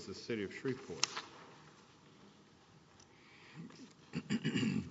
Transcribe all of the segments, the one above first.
City of Shreveport City of Shreveport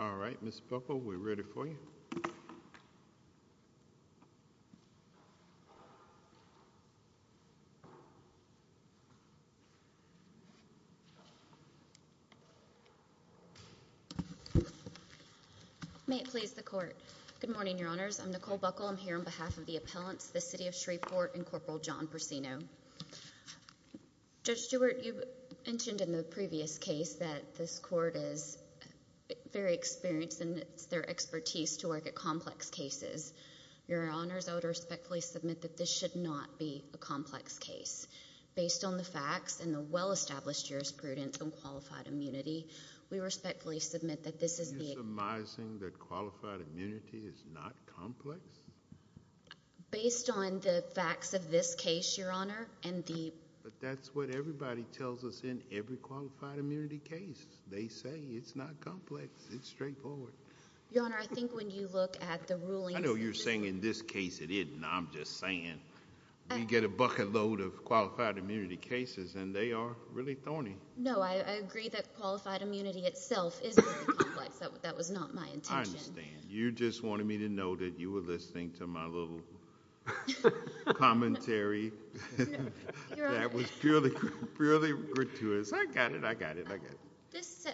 All right, Ms. Buckle, we're ready for you. May it please the Court. Good morning, Your Honors. I'm Nicole Buckle. I'm here on behalf of the appellants, the City of Shreveport and Corporal John Persino. Judge Stewart, you mentioned in the previous case that this Court is very experienced in their expertise to work at complex cases. Your Honors, I would respectfully submit that this should not be a complex case. Based on the facts and the well-established jurisprudence on qualified immunity, we respectfully submit that this is the... Are you surmising that qualified immunity is not complex? Based on the facts of this case, Your Honor, and the... But that's what everybody tells us in every qualified immunity case. They say it's not complex. It's straightforward. Your Honor, I think when you look at the rulings... I know you're saying in this case it isn't. I'm just saying we get a bucket load of qualified immunity cases and they are really thorny. No, I agree that qualified immunity itself is very complex. That was not my intention. I understand. You just wanted me to know that you were listening to my little commentary. That was purely gratuitous. I got it. I got it. I got it.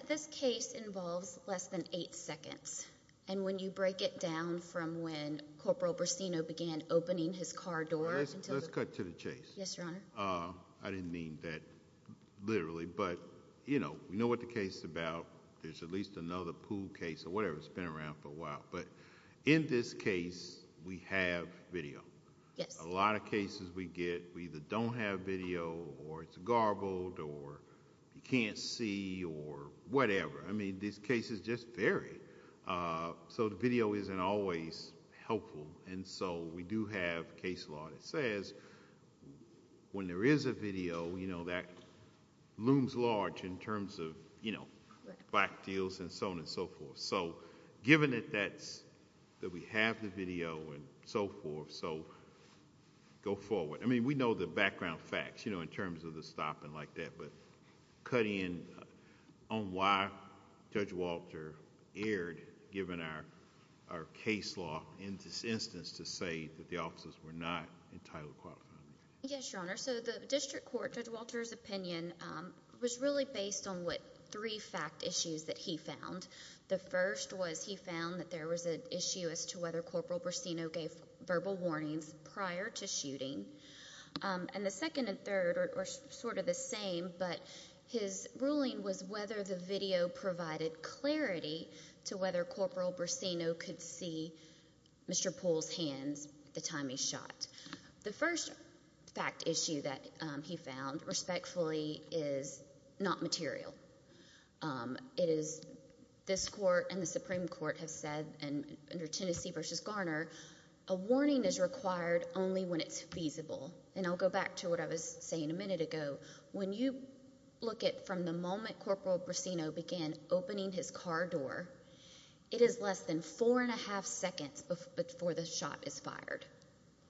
This case involves less than eight seconds. And when you break it down from when Corporal Persino began opening his car door... Let's cut to the chase. Yes, Your Honor. I didn't mean that literally, but we know what the case is about. There's at least another pool case or whatever that's been around for a while. But in this case, we have video. Yes. A lot of cases we get, we either don't have video or it's garbled or you can't see or whatever. I mean, these cases just vary. So the video isn't always helpful. And so we do have case law that says when there is a video, you know, that looms large in terms of, you know, black deals and so on and so forth. So given that we have the video and so forth, so go forward. I mean, we know the background facts, you know, in terms of the stopping like that. But cutting in on why Judge Walter erred given our case law in this instance to say that the officers were not entitled to qualify. Yes, Your Honor. So the district court, Judge Walter's opinion was really based on what three fact issues that he found. The first was he found that there was an issue as to whether Corporal Persino gave verbal warnings prior to shooting. And the second and third are sort of the same, but his ruling was whether the video provided clarity to whether Corporal Persino could see Mr. Poole's hands the time he shot. The first fact issue that he found, respectfully, is not material. It is this court and the Supreme Court have said under Tennessee v. Garner, a warning is required only when it's feasible. And I'll go back to what I was saying a minute ago. When you look at from the moment Corporal Persino began opening his car door, it is less than four and a half seconds before the shot is fired.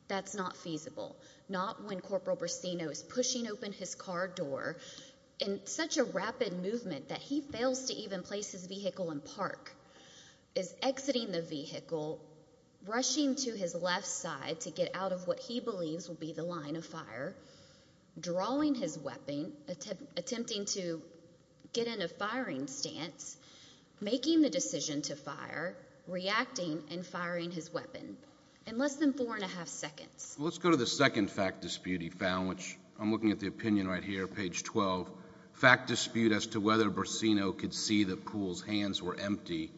That's not feasible. Not when Corporal Persino is pushing open his car door in such a rapid movement that he fails to even place his vehicle in park, is exiting the vehicle, rushing to his left side to get out of what he believes will be the line of fire, drawing his weapon, attempting to get in a firing stance, making the decision to fire, reacting, and firing his weapon. In less than four and a half seconds. Let's go to the second fact dispute he found, which I'm looking at the opinion right here, page 12. Fact dispute as to whether Persino could see that Poole's hands were empty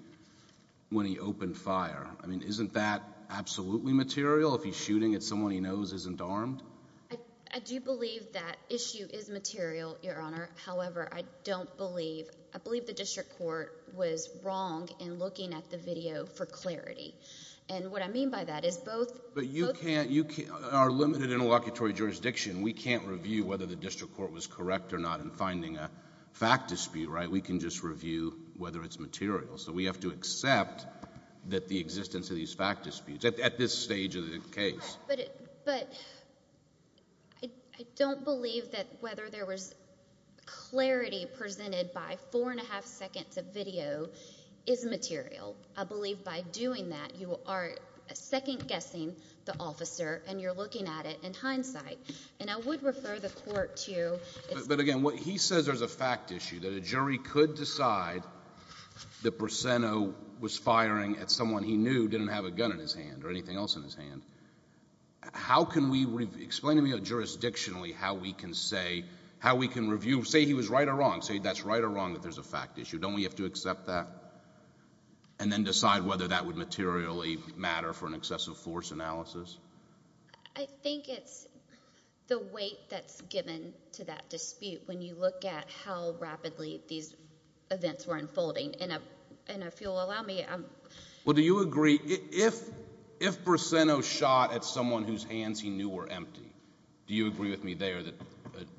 when he opened fire. I mean, isn't that absolutely material? If he's shooting at someone he knows isn't armed? I do believe that issue is material, Your Honor. However, I don't believe, I believe the district court was wrong in looking at the video for clarity. And what I mean by that is both— But you can't—our limited interlocutory jurisdiction, we can't review whether the district court was correct or not in finding a fact dispute, right? We can just review whether it's material. So we have to accept that the existence of these fact disputes at this stage of the case. But I don't believe that whether there was clarity presented by four and a half seconds of video is material. I believe by doing that you are second-guessing the officer and you're looking at it in hindsight. And I would refer the court to— But again, he says there's a fact issue, that a jury could decide that Persino was firing at someone he knew didn't have a gun in his hand or anything else in his hand. How can we—explain to me jurisdictionally how we can say, how we can review, say he was right or wrong, say that's right or wrong that there's a fact issue. Don't we have to accept that and then decide whether that would materially matter for an excessive force analysis? I think it's the weight that's given to that dispute when you look at how rapidly these events were unfolding. And if you'll allow me— Well, do you agree—if Persino shot at someone whose hands he knew were empty, do you agree with me there that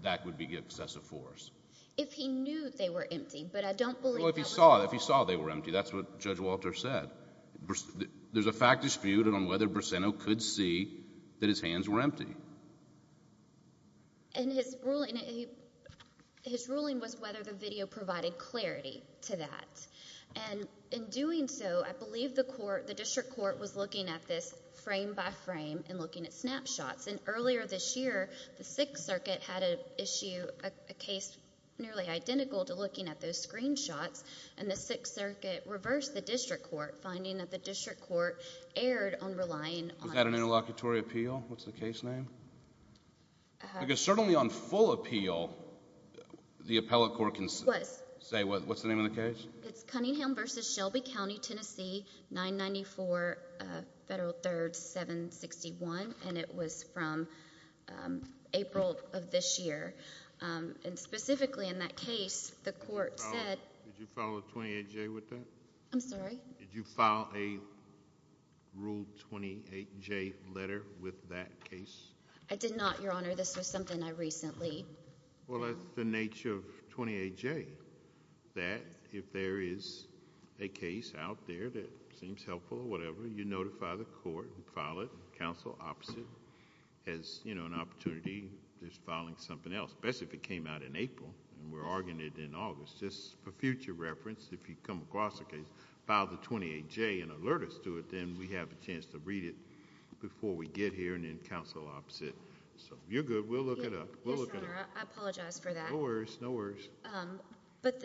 that would be excessive force? If he knew they were empty, but I don't believe that was— Well, if he saw they were empty, that's what Judge Walter said. There's a fact dispute on whether Persino could see that his hands were empty. And his ruling was whether the video provided clarity to that. And in doing so, I believe the court, the district court, was looking at this frame by frame and looking at snapshots. And earlier this year, the Sixth Circuit had an issue, a case nearly identical to looking at those screenshots. And the Sixth Circuit reversed the district court, finding that the district court erred on relying on— Was that an interlocutory appeal? What's the case name? Because certainly on full appeal, the appellate court can say— What's the name of the case? It's Cunningham v. Shelby County, Tennessee, 994 Federal 3rd 761. And it was from April of this year. And specifically in that case, the court said— Did you file a 28J with that? I'm sorry? Did you file a Rule 28J letter with that case? I did not, Your Honor. This was something I recently— Well, that's the nature of 28J. That, if there is a case out there that seems helpful or whatever, you notify the court and file it. Counsel opposite has an opportunity just filing something else. Especially if it came out in April and we're arguing it in August. Just for future reference, if you come across a case, file the 28J and alert us to it. Then we have a chance to read it before we get here and then counsel opposite. So if you're good, we'll look it up. Yes, Your Honor. I apologize for that. No worries. No worries. But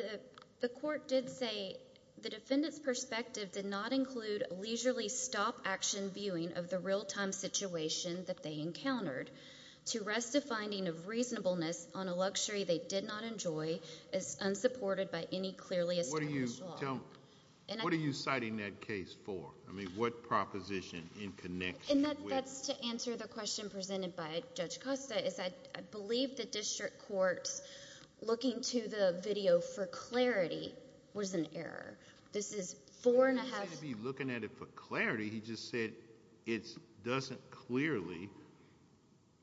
the court did say the defendant's perspective did not include leisurely stop-action viewing of the real-time situation that they encountered to rest a finding of reasonableness on a luxury they did not enjoy as unsupported by any clearly established law. What are you citing that case for? I mean, what proposition in connection with— That's to answer the question presented by Judge Costa. I believe the district court's looking to the video for clarity was an error. This is four and a half— He didn't say to be looking at it for clarity. He just said it doesn't clearly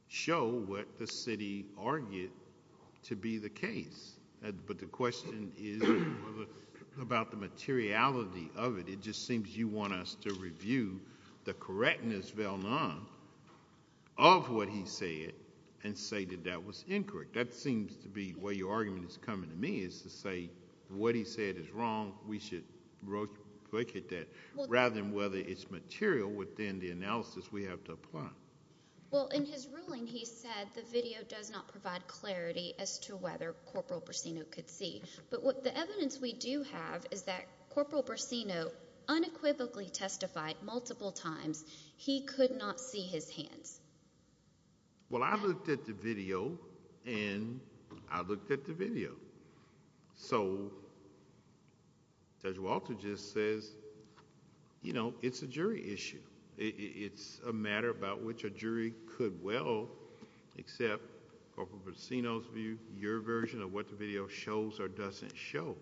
show what the city argued to be the case. But the question is about the materiality of it. It just seems you want us to review the correctness of what he said and say that that was incorrect. That seems to be where your argument is coming to me is to say what he said is wrong. We should look at that rather than whether it's material within the analysis we have to apply. Well, in his ruling, he said the video does not provide clarity as to whether Corporal Brasino could see. But the evidence we do have is that Corporal Brasino unequivocally testified multiple times he could not see his hands. Well, I looked at the video, and I looked at the video. So Judge Walter just says, you know, it's a jury issue. It's a matter about which a jury could well accept Corporal Brasino's view, your version of what the video shows or doesn't show.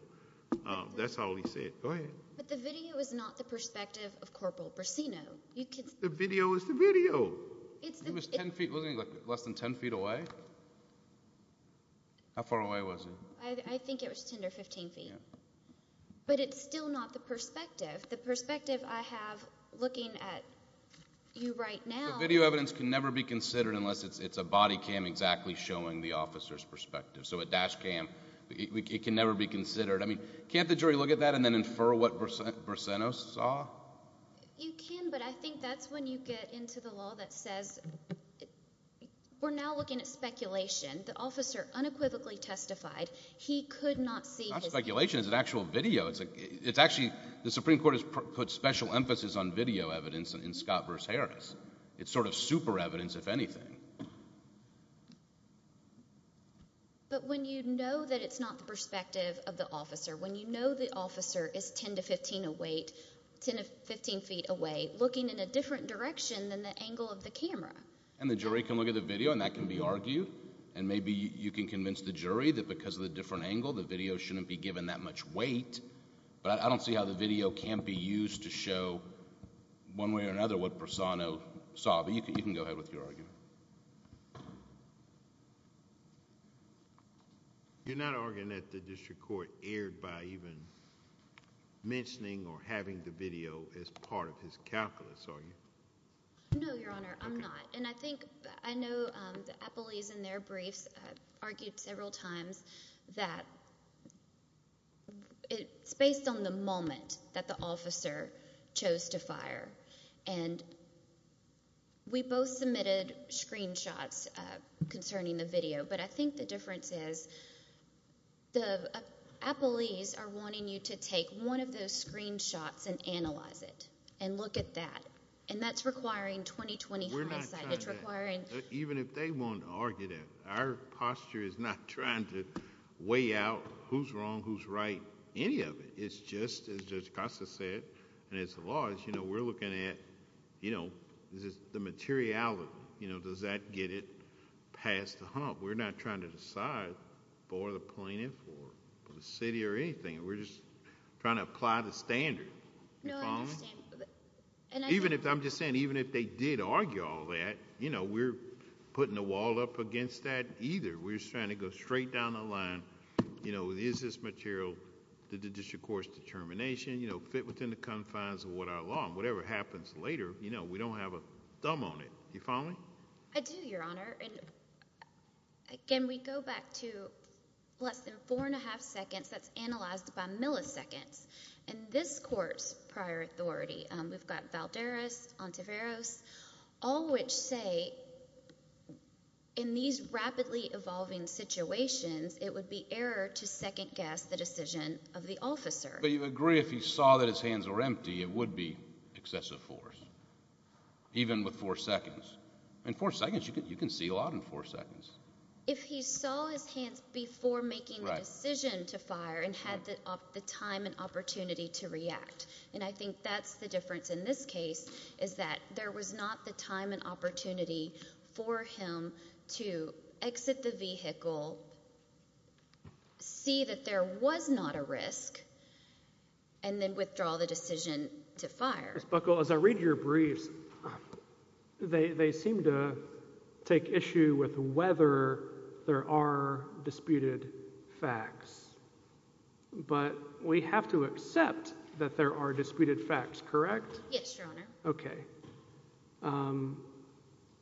That's all he said. Go ahead. But the video is not the perspective of Corporal Brasino. The video is the video. It was 10 feet, wasn't it, less than 10 feet away? How far away was it? I think it was 10 or 15 feet. But it's still not the perspective. The perspective I have looking at you right now. So video evidence can never be considered unless it's a body cam exactly showing the officer's perspective. So a dash cam, it can never be considered. I mean, can't the jury look at that and then infer what Brasino saw? You can, but I think that's when you get into the law that says we're now looking at speculation. The officer unequivocally testified he could not see his hands. It's not speculation. It's an actual video. It's actually the Supreme Court has put special emphasis on video evidence in Scott v. Harris. It's sort of super evidence, if anything. But when you know that it's not the perspective of the officer, when you know the officer is 10 to 15 feet away, looking in a different direction than the angle of the camera. And the jury can look at the video, and that can be argued. And maybe you can convince the jury that because of the different angle, the video shouldn't be given that much weight. But I don't see how the video can't be used to show one way or another what Brasino saw. But you can go ahead with your argument. You're not arguing that the district court erred by even mentioning or having the video as part of his calculus, are you? No, Your Honor. I'm not. And I think I know the appellees in their briefs argued several times that it's based on the moment that the officer chose to fire. And we both submitted screenshots concerning the video. But I think the difference is the appellees are wanting you to take one of those screenshots and analyze it and look at that. And that's requiring 20-20 hindsight. Even if they want to argue that, our posture is not trying to weigh out who's wrong, who's right, any of it. It's just, as Judge Costa said, and it's the law, we're looking at the materiality. Does that get it past the hump? We're not trying to decide for the plaintiff or the city or anything. We're just trying to apply the standard. No, I understand. Even if, I'm just saying, even if they did argue all that, we're putting a wall up against that either. We're just trying to go straight down the line. Is this material? Did the district court's determination fit within the confines of what our law? Whatever happens later, we don't have a thumb on it. Do you follow me? I do, Your Honor. And again, we go back to less than four and a half seconds. That's analyzed by milliseconds. In this court's prior authority, we've got Valderas, Ontiveros, all which say in these rapidly evolving situations, it would be error to second-guess the decision of the officer. But you agree if he saw that his hands were empty, it would be excessive force, even with four seconds. In four seconds, you can see a lot in four seconds. If he saw his hands before making the decision to fire and had the time and opportunity to react, and I think that's the difference in this case, is that there was not the time and opportunity for him to exit the vehicle, see that there was not a risk, and then withdraw the decision to fire. Ms. Buckle, as I read your briefs, they seem to take issue with whether there are disputed facts. But we have to accept that there are disputed facts, correct? Yes, Your Honor. Okay.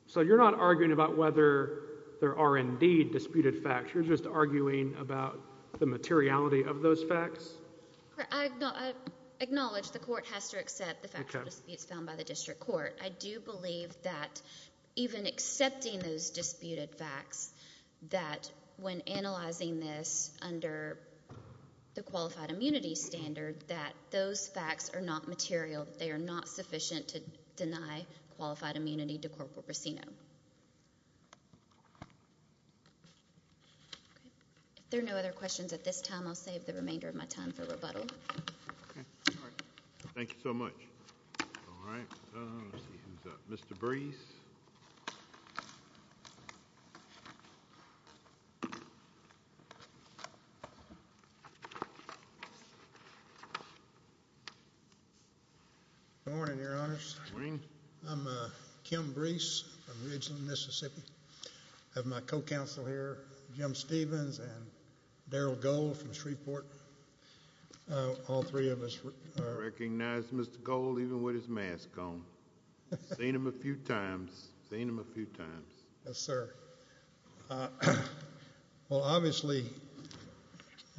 So you're not arguing about whether there are indeed disputed facts. You're just arguing about the materiality of those facts? I acknowledge the court has to accept the factual disputes found by the district court. I do believe that even accepting those disputed facts, that when analyzing this under the qualified immunity standard, that those facts are not material, that they are not sufficient to deny qualified immunity to corporal prosceno. Okay. If there are no other questions at this time, I'll save the remainder of my time for rebuttal. Okay. All right. Thank you so much. All right. Let's see who's up. Mr. Brees. Good morning, Your Honors. Good morning. I'm Kim Brees from Ridgeland, Mississippi. I have my co-counsel here, Jim Stevens and Daryl Gold from Shreveport. All three of us are— I recognize Mr. Gold even with his mask on. Seen him a few times. Seen him a few times. Yes, sir. Well, obviously,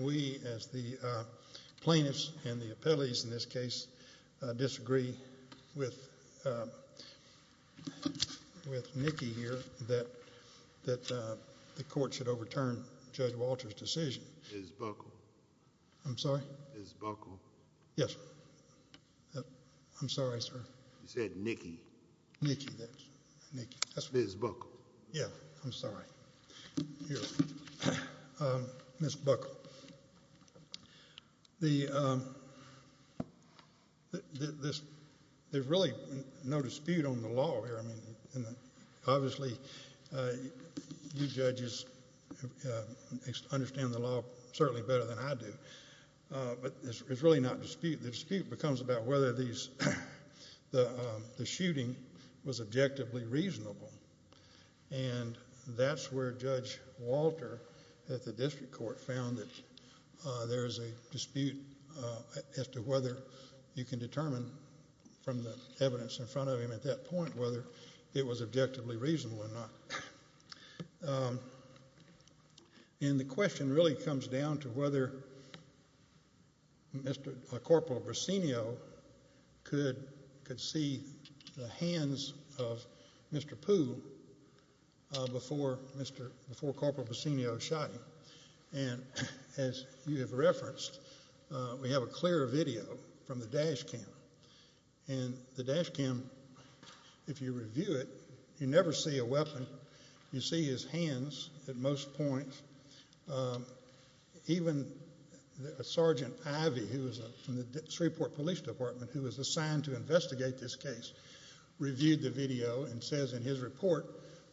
we as the plaintiffs and the appellees in this case disagree with Nikki here that the court should overturn Judge Walter's decision. Ms. Buckle. I'm sorry? Ms. Buckle. Yes, sir. I'm sorry, sir. You said Nikki. Nikki. Ms. Buckle. Yeah. I'm sorry. Here. Ms. Buckle. There's really no dispute on the law here. I mean, obviously, you judges understand the law certainly better than I do. But it's really not dispute. The dispute becomes about whether the shooting was objectively reasonable. And that's where Judge Walter at the district court found that there is a dispute as to whether you can determine from the evidence in front of him at that point whether it was objectively reasonable or not. And the question really comes down to whether Mr. Corporal Brasenio could see the hands of Mr. Poole before Corporal Brasenio shot him. And as you have referenced, we have a clear video from the dash cam. And the dash cam, if you review it, you never see a weapon. You see his hands at most points. Even Sergeant Ivey, who was from the Shreveport Police Department, who was assigned to investigate this case, reviewed the video and says in his report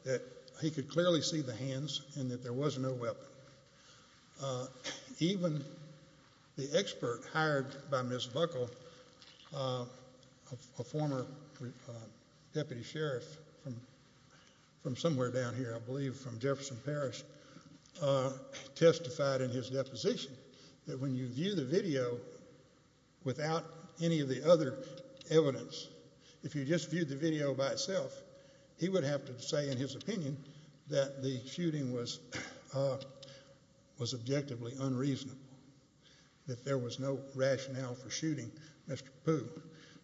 that he could clearly see the hands and that there was no weapon. Even the expert hired by Ms. Buckle, a former deputy sheriff from somewhere down here, I believe from Jefferson Parish, testified in his deposition that when you view the video without any of the other evidence, if you just viewed the video by itself, he would have to say in his opinion that the shooting was objectively unreasonable, that there was no rationale for shooting Mr. Poole.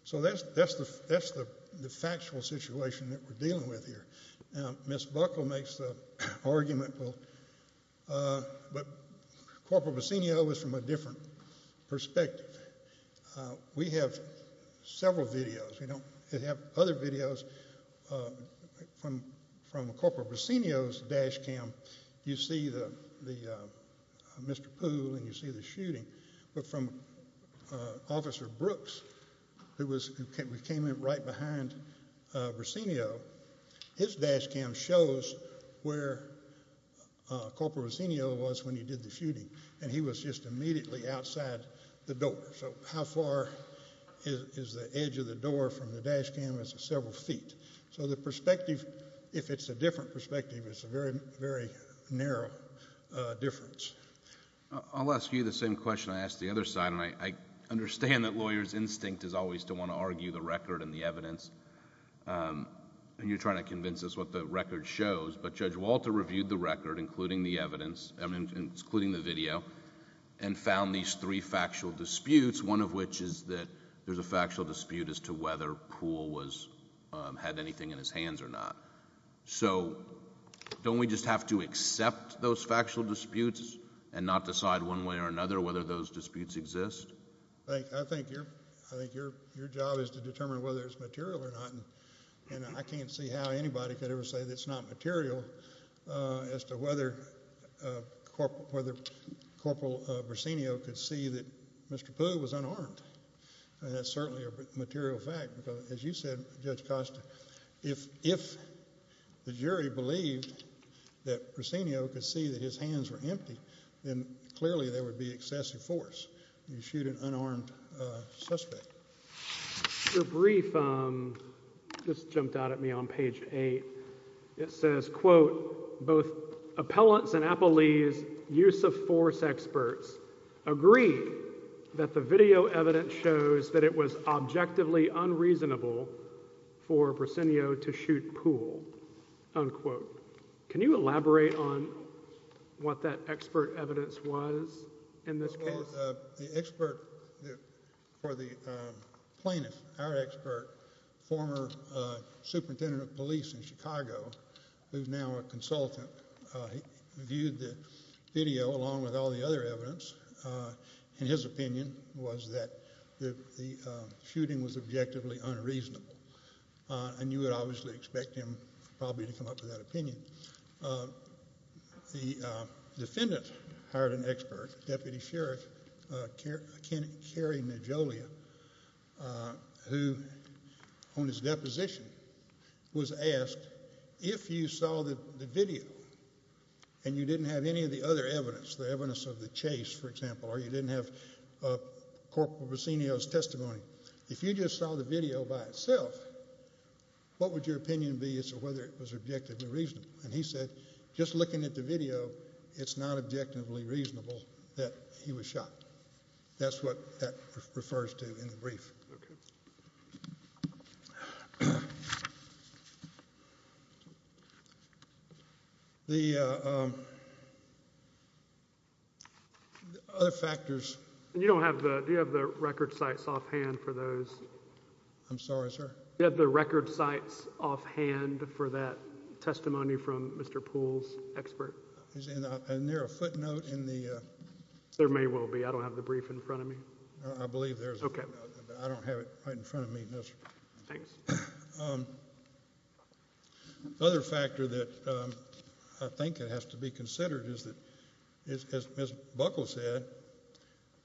So that's the factual situation that we're dealing with here. Now, Ms. Buckle makes the argument, but Corporal Brasenio is from a different perspective. We have several videos. We have other videos. From Corporal Brasenio's dash cam, you see Mr. Poole and you see the shooting. But from Officer Brooks, who came in right behind Brasenio, his dash cam shows where Corporal Brasenio was when he did the shooting, and he was just immediately outside the door. So how far is the edge of the door from the dash cam? It's several feet. So the perspective, if it's a different perspective, it's a very, very narrow difference. I'll ask you the same question I asked the other side, and I understand that lawyers' instinct is always to want to argue the record and the evidence, and you're trying to convince us what the record shows. But Judge Walter reviewed the record, including the video, and found these three factual disputes, one of which is that there's a factual dispute as to whether Poole had anything in his hands or not. So don't we just have to accept those factual disputes and not decide one way or another whether those disputes exist? I think your job is to determine whether it's material or not, and I can't see how anybody could ever say that it's not material as to whether Corporal Brasenio could see that Mr. Poole was unarmed. That's certainly a material fact, because as you said, Judge Costa, if the jury believed that Brasenio could see that his hands were empty, then clearly there would be excessive force. You shoot an unarmed suspect. Your brief just jumped out at me on page 8. It says, quote, both appellants and appellees, use-of-force experts, agree that the video evidence shows that it was objectively unreasonable for Brasenio to shoot Poole, unquote. Can you elaborate on what that expert evidence was in this case? Well, the expert for the plaintiff, our expert, former superintendent of police in Chicago, who's now a consultant, viewed the video along with all the other evidence, and his opinion was that the shooting was objectively unreasonable, and you would obviously expect him probably to come up with that opinion. The defendant hired an expert, Deputy Sheriff Kerry Najolia, who on his deposition was asked, if you saw the video and you didn't have any of the other evidence, the evidence of the chase, for example, or you didn't have Corporal Brasenio's testimony, if you just saw the video by itself, what would your opinion be as to whether it was objectively reasonable? And he said, just looking at the video, it's not objectively reasonable that he was shot. That's what that refers to in the brief. Okay. The other factors. Do you have the record sites offhand for those? I'm sorry, sir? Do you have the record sites offhand for that testimony from Mr. Poole's expert? Isn't there a footnote in the... There may well be. I don't have the brief in front of me. I believe there's a footnote, but I don't have it right in front of me, no, sir. Thanks. The other factor that I think that has to be considered is that, as Ms. Buckle said,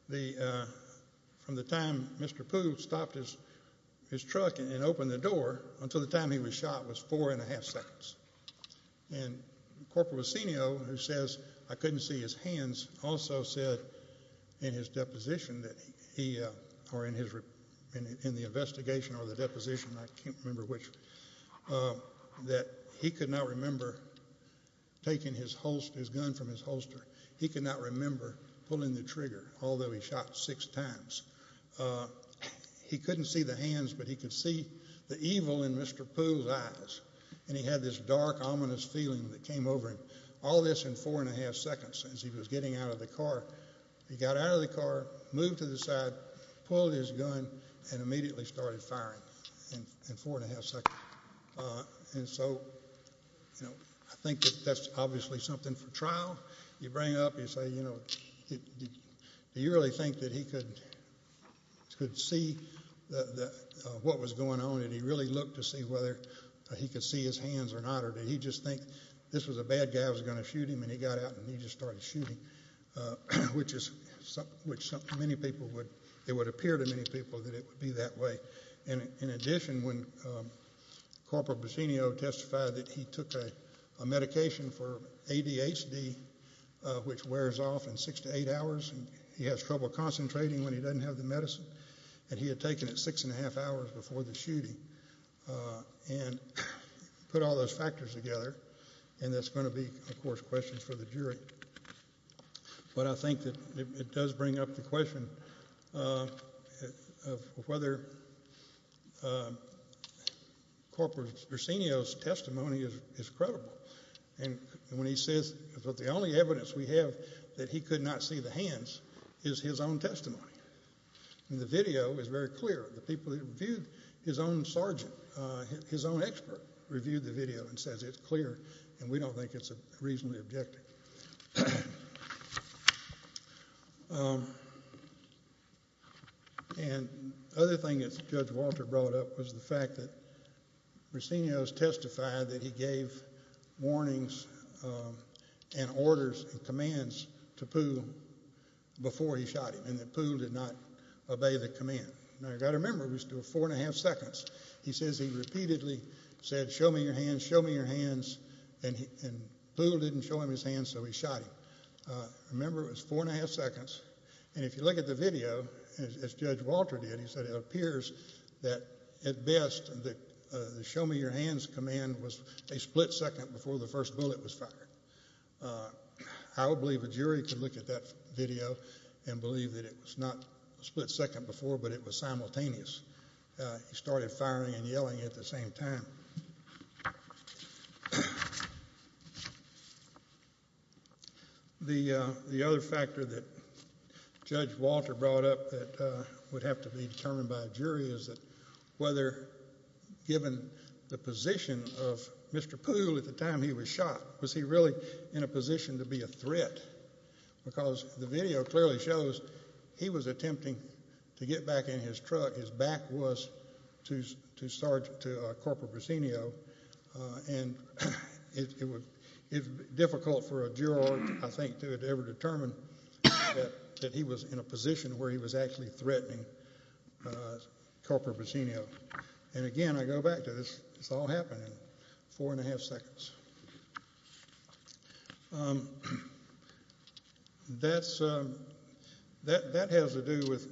from the time Mr. Poole stopped his truck and opened the door until the time he was shot was four and a half seconds. And Corporal Aceno, who says, I couldn't see his hands, also said in his deposition that he, or in the investigation or the deposition, I can't remember which, that he could not remember taking his gun from his holster. He could not remember pulling the trigger, although he shot six times. He couldn't see the hands, but he could see the evil in Mr. Poole's eyes, and he had this dark, ominous feeling that came over him. All this in four and a half seconds as he was getting out of the car. He got out of the car, moved to the side, pulled his gun, and immediately started firing in four and a half seconds. And so I think that that's obviously something for trial. You bring it up and you say, you know, do you really think that he could see what was going on, or did he really look to see whether he could see his hands or not, or did he just think this was a bad guy that was going to shoot him, and he got out and he just started shooting, which many people would, it would appear to many people that it would be that way. In addition, when Corporal Aceno testified that he took a medication for ADHD, which wears off in six to eight hours and he has trouble concentrating when he doesn't have the medicine, and he had taken it six and a half hours before the shooting, and put all those factors together, and that's going to be, of course, questions for the jury. But I think that it does bring up the question of whether Corporal Aceno's testimony is credible. And when he says that the only evidence we have that he could not see the hands is his own testimony. And the video is very clear. The people that reviewed his own sergeant, his own expert, reviewed the video and says it's clear, and we don't think it's reasonably objective. And the other thing that Judge Walter brought up was the fact that Aceno has testified that he gave warnings and orders and commands to Poole before he shot him, and that Poole did not obey the command. Now, you've got to remember, it was still four and a half seconds. He says he repeatedly said, show me your hands, show me your hands, and Poole didn't show him his hands, so he shot him. Remember, it was four and a half seconds. And if you look at the video, as Judge Walter did, he said, it appears that at best the show me your hands command was a split second before the first bullet was fired. I would believe a jury could look at that video and believe that it was not a split second before, but it was simultaneous. He started firing and yelling at the same time. The other factor that Judge Walter brought up that would have to be determined by a jury is that whether, given the position of Mr. Poole at the time he was shot, was he really in a position to be a threat? Because the video clearly shows he was attempting to get back in his truck. His back was to Corporal Buccino, and it's difficult for a juror, I think, to ever determine that he was in a position where he was actually threatening Corporal Buccino. And, again, I go back to this. This all happened in four and a half seconds. That has to do with,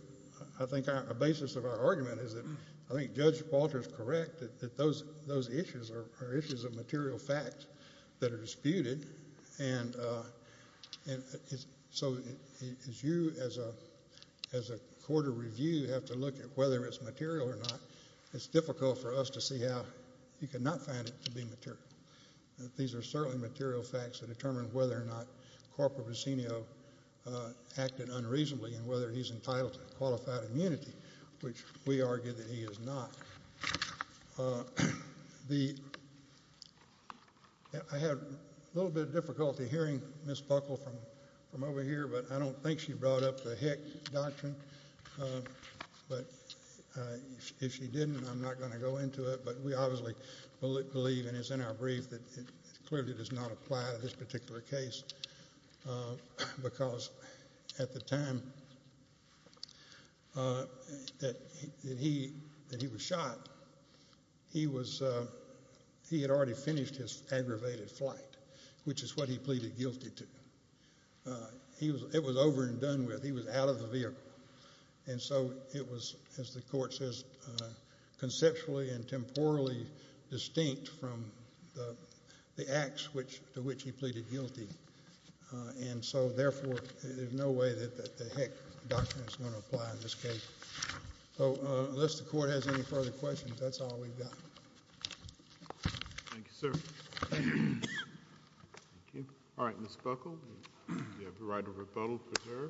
I think, a basis of our argument is that I think Judge Walter is correct, that those issues are issues of material fact that are disputed. And so as you, as a court of review, have to look at whether it's material or not, it's difficult for us to see how you cannot find it to be material. These are certainly material facts that determine whether or not Corporal Buccino acted unreasonably and whether he's entitled to qualified immunity, which we argue that he is not. I had a little bit of difficulty hearing Ms. Buckle from over here, but I don't think she brought up the Hick Doctrine. But if she didn't, I'm not going to go into it. But we obviously believe, and it's in our brief, that it clearly does not apply to this particular case because at the time that he was shot, he had already finished his aggravated flight, which is what he pleaded guilty to. It was over and done with. He was out of the vehicle. And so it was, as the Court says, conceptually and temporally distinct from the acts to which he pleaded guilty. And so, therefore, there's no way that the Hick Doctrine is going to apply in this case. So unless the Court has any further questions, that's all we've got. Thank you, sir. All right, Ms. Buckle. Do we have the right of rebuttal for her?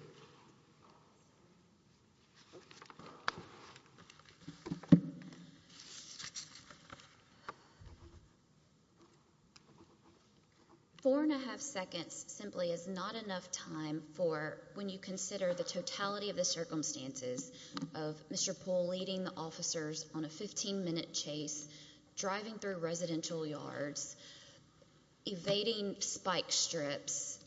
Four and a half seconds simply is not enough time for when you consider the totality of the circumstances of Mr. Poole leading the officers on a 15-minute chase, driving through residential yards, evading spike strips,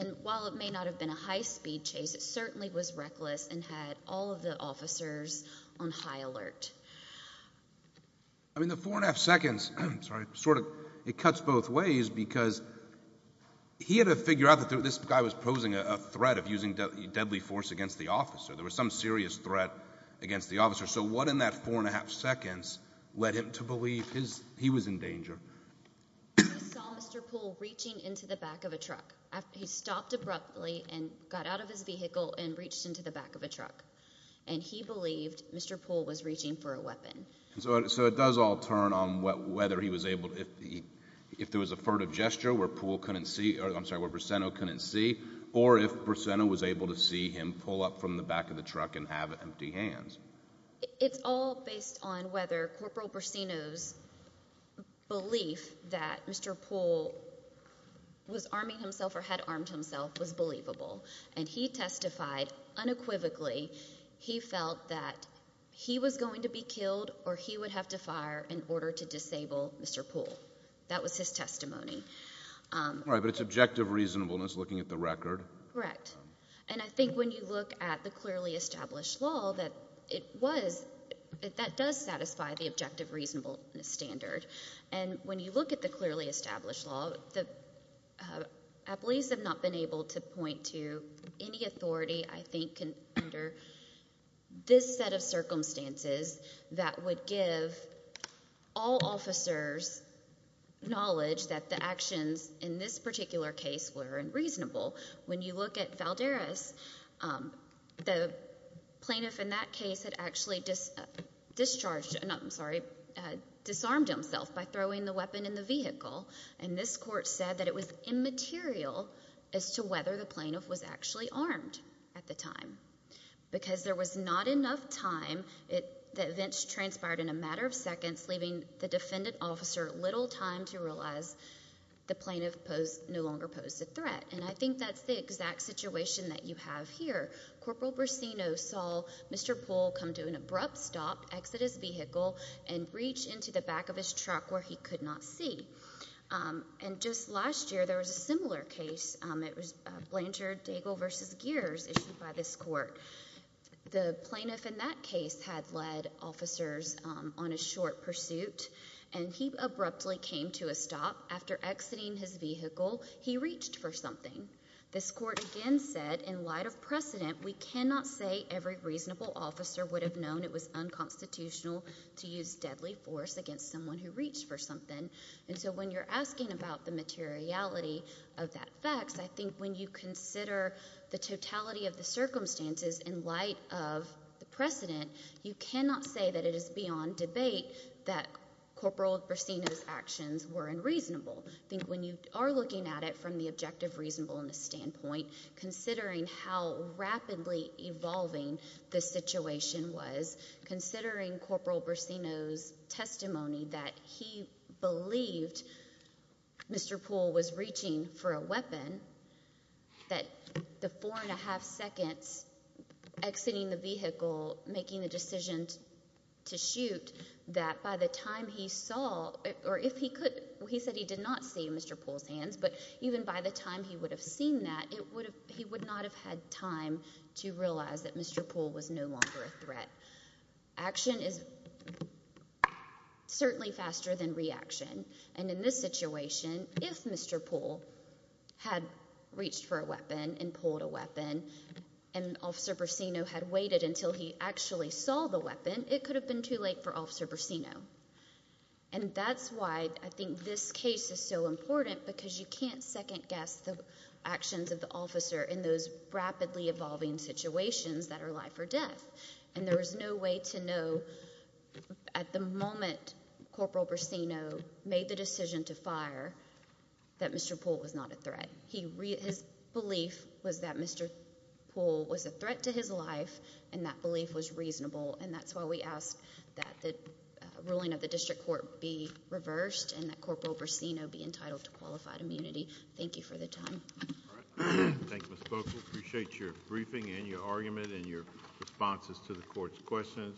and while it may not have been a high-speed chase, it certainly was reckless and had all of the officers on high alert. I mean, the four and a half seconds sort of cuts both ways because he had to figure out that this guy was posing a threat of using deadly force against the officer. There was some serious threat against the officer. So what in that four and a half seconds led him to believe he was in danger? He saw Mr. Poole reaching into the back of a truck. He stopped abruptly and got out of his vehicle and reached into the back of a truck, and he believed Mr. Poole was reaching for a weapon. So it does all turn on whether he was able to, if there was a furtive gesture where Poole couldn't see, or I'm sorry, where Brisseno couldn't see, or if Brisseno was able to see him pull up from the back of the truck and have empty hands. It's all based on whether Corporal Brisseno's belief that Mr. Poole was arming himself or had armed himself was believable, and he testified unequivocally he felt that he was going to be killed or he would have to fire in order to disable Mr. Poole. That was his testimony. All right, but it's objective reasonableness looking at the record. Correct. And I think when you look at the clearly established law that it was, that does satisfy the objective reasonableness standard. And when you look at the clearly established law, the employees have not been able to point to any authority I think under this set of circumstances that would give all officers knowledge that the actions in this particular case were unreasonable. When you look at Valderez, the plaintiff in that case had actually discharged, I'm sorry, disarmed himself by throwing the weapon in the vehicle, and this court said that it was immaterial as to whether the plaintiff was actually armed at the time because there was not enough time, the events transpired in a matter of seconds, leaving the defendant officer little time to realize the plaintiff no longer posed a threat. And I think that's the exact situation that you have here. Corporal Brasino saw Mr. Poole come to an abrupt stop, exit his vehicle, and reach into the back of his truck where he could not see. And just last year there was a similar case. It was Blanchard-Dagle v. Gears issued by this court. The plaintiff in that case had led officers on a short pursuit, and he abruptly came to a stop. After exiting his vehicle, he reached for something. This court again said, in light of precedent, we cannot say every reasonable officer would have known it was unconstitutional to use deadly force against someone who reached for something. And so when you're asking about the materiality of that facts, I think when you consider the totality of the circumstances in light of the precedent, you cannot say that it is beyond debate that Corporal Brasino's actions were unreasonable. I think when you are looking at it from the objective reasonableness standpoint, considering how rapidly evolving the situation was, considering Corporal Brasino's testimony that he believed Mr. Poole was reaching for a weapon, that the four and a half seconds exiting the vehicle, making the decision to shoot, that by the time he saw, or if he could, he said he did not see Mr. Poole's hands, but even by the time he would have seen that, he would not have had time to realize that Mr. Poole was no longer a threat. Action is certainly faster than reaction. And in this situation, if Mr. Poole had reached for a weapon and pulled a weapon and Officer Brasino had waited until he actually saw the weapon, it could have been too late for Officer Brasino. And that's why I think this case is so important because you can't second-guess the actions of the officer in those rapidly evolving situations that are life or death. And there is no way to know at the moment Corporal Brasino made the decision to fire that Mr. Poole was not a threat. His belief was that Mr. Poole was a threat to his life, and that belief was reasonable. And that's why we ask that the ruling of the district court be reversed and that Corporal Brasino be entitled to qualified immunity. Thank you for the time. Thank you, Ms. Bogle. Appreciate your briefing and your argument and your responses to the court's questions.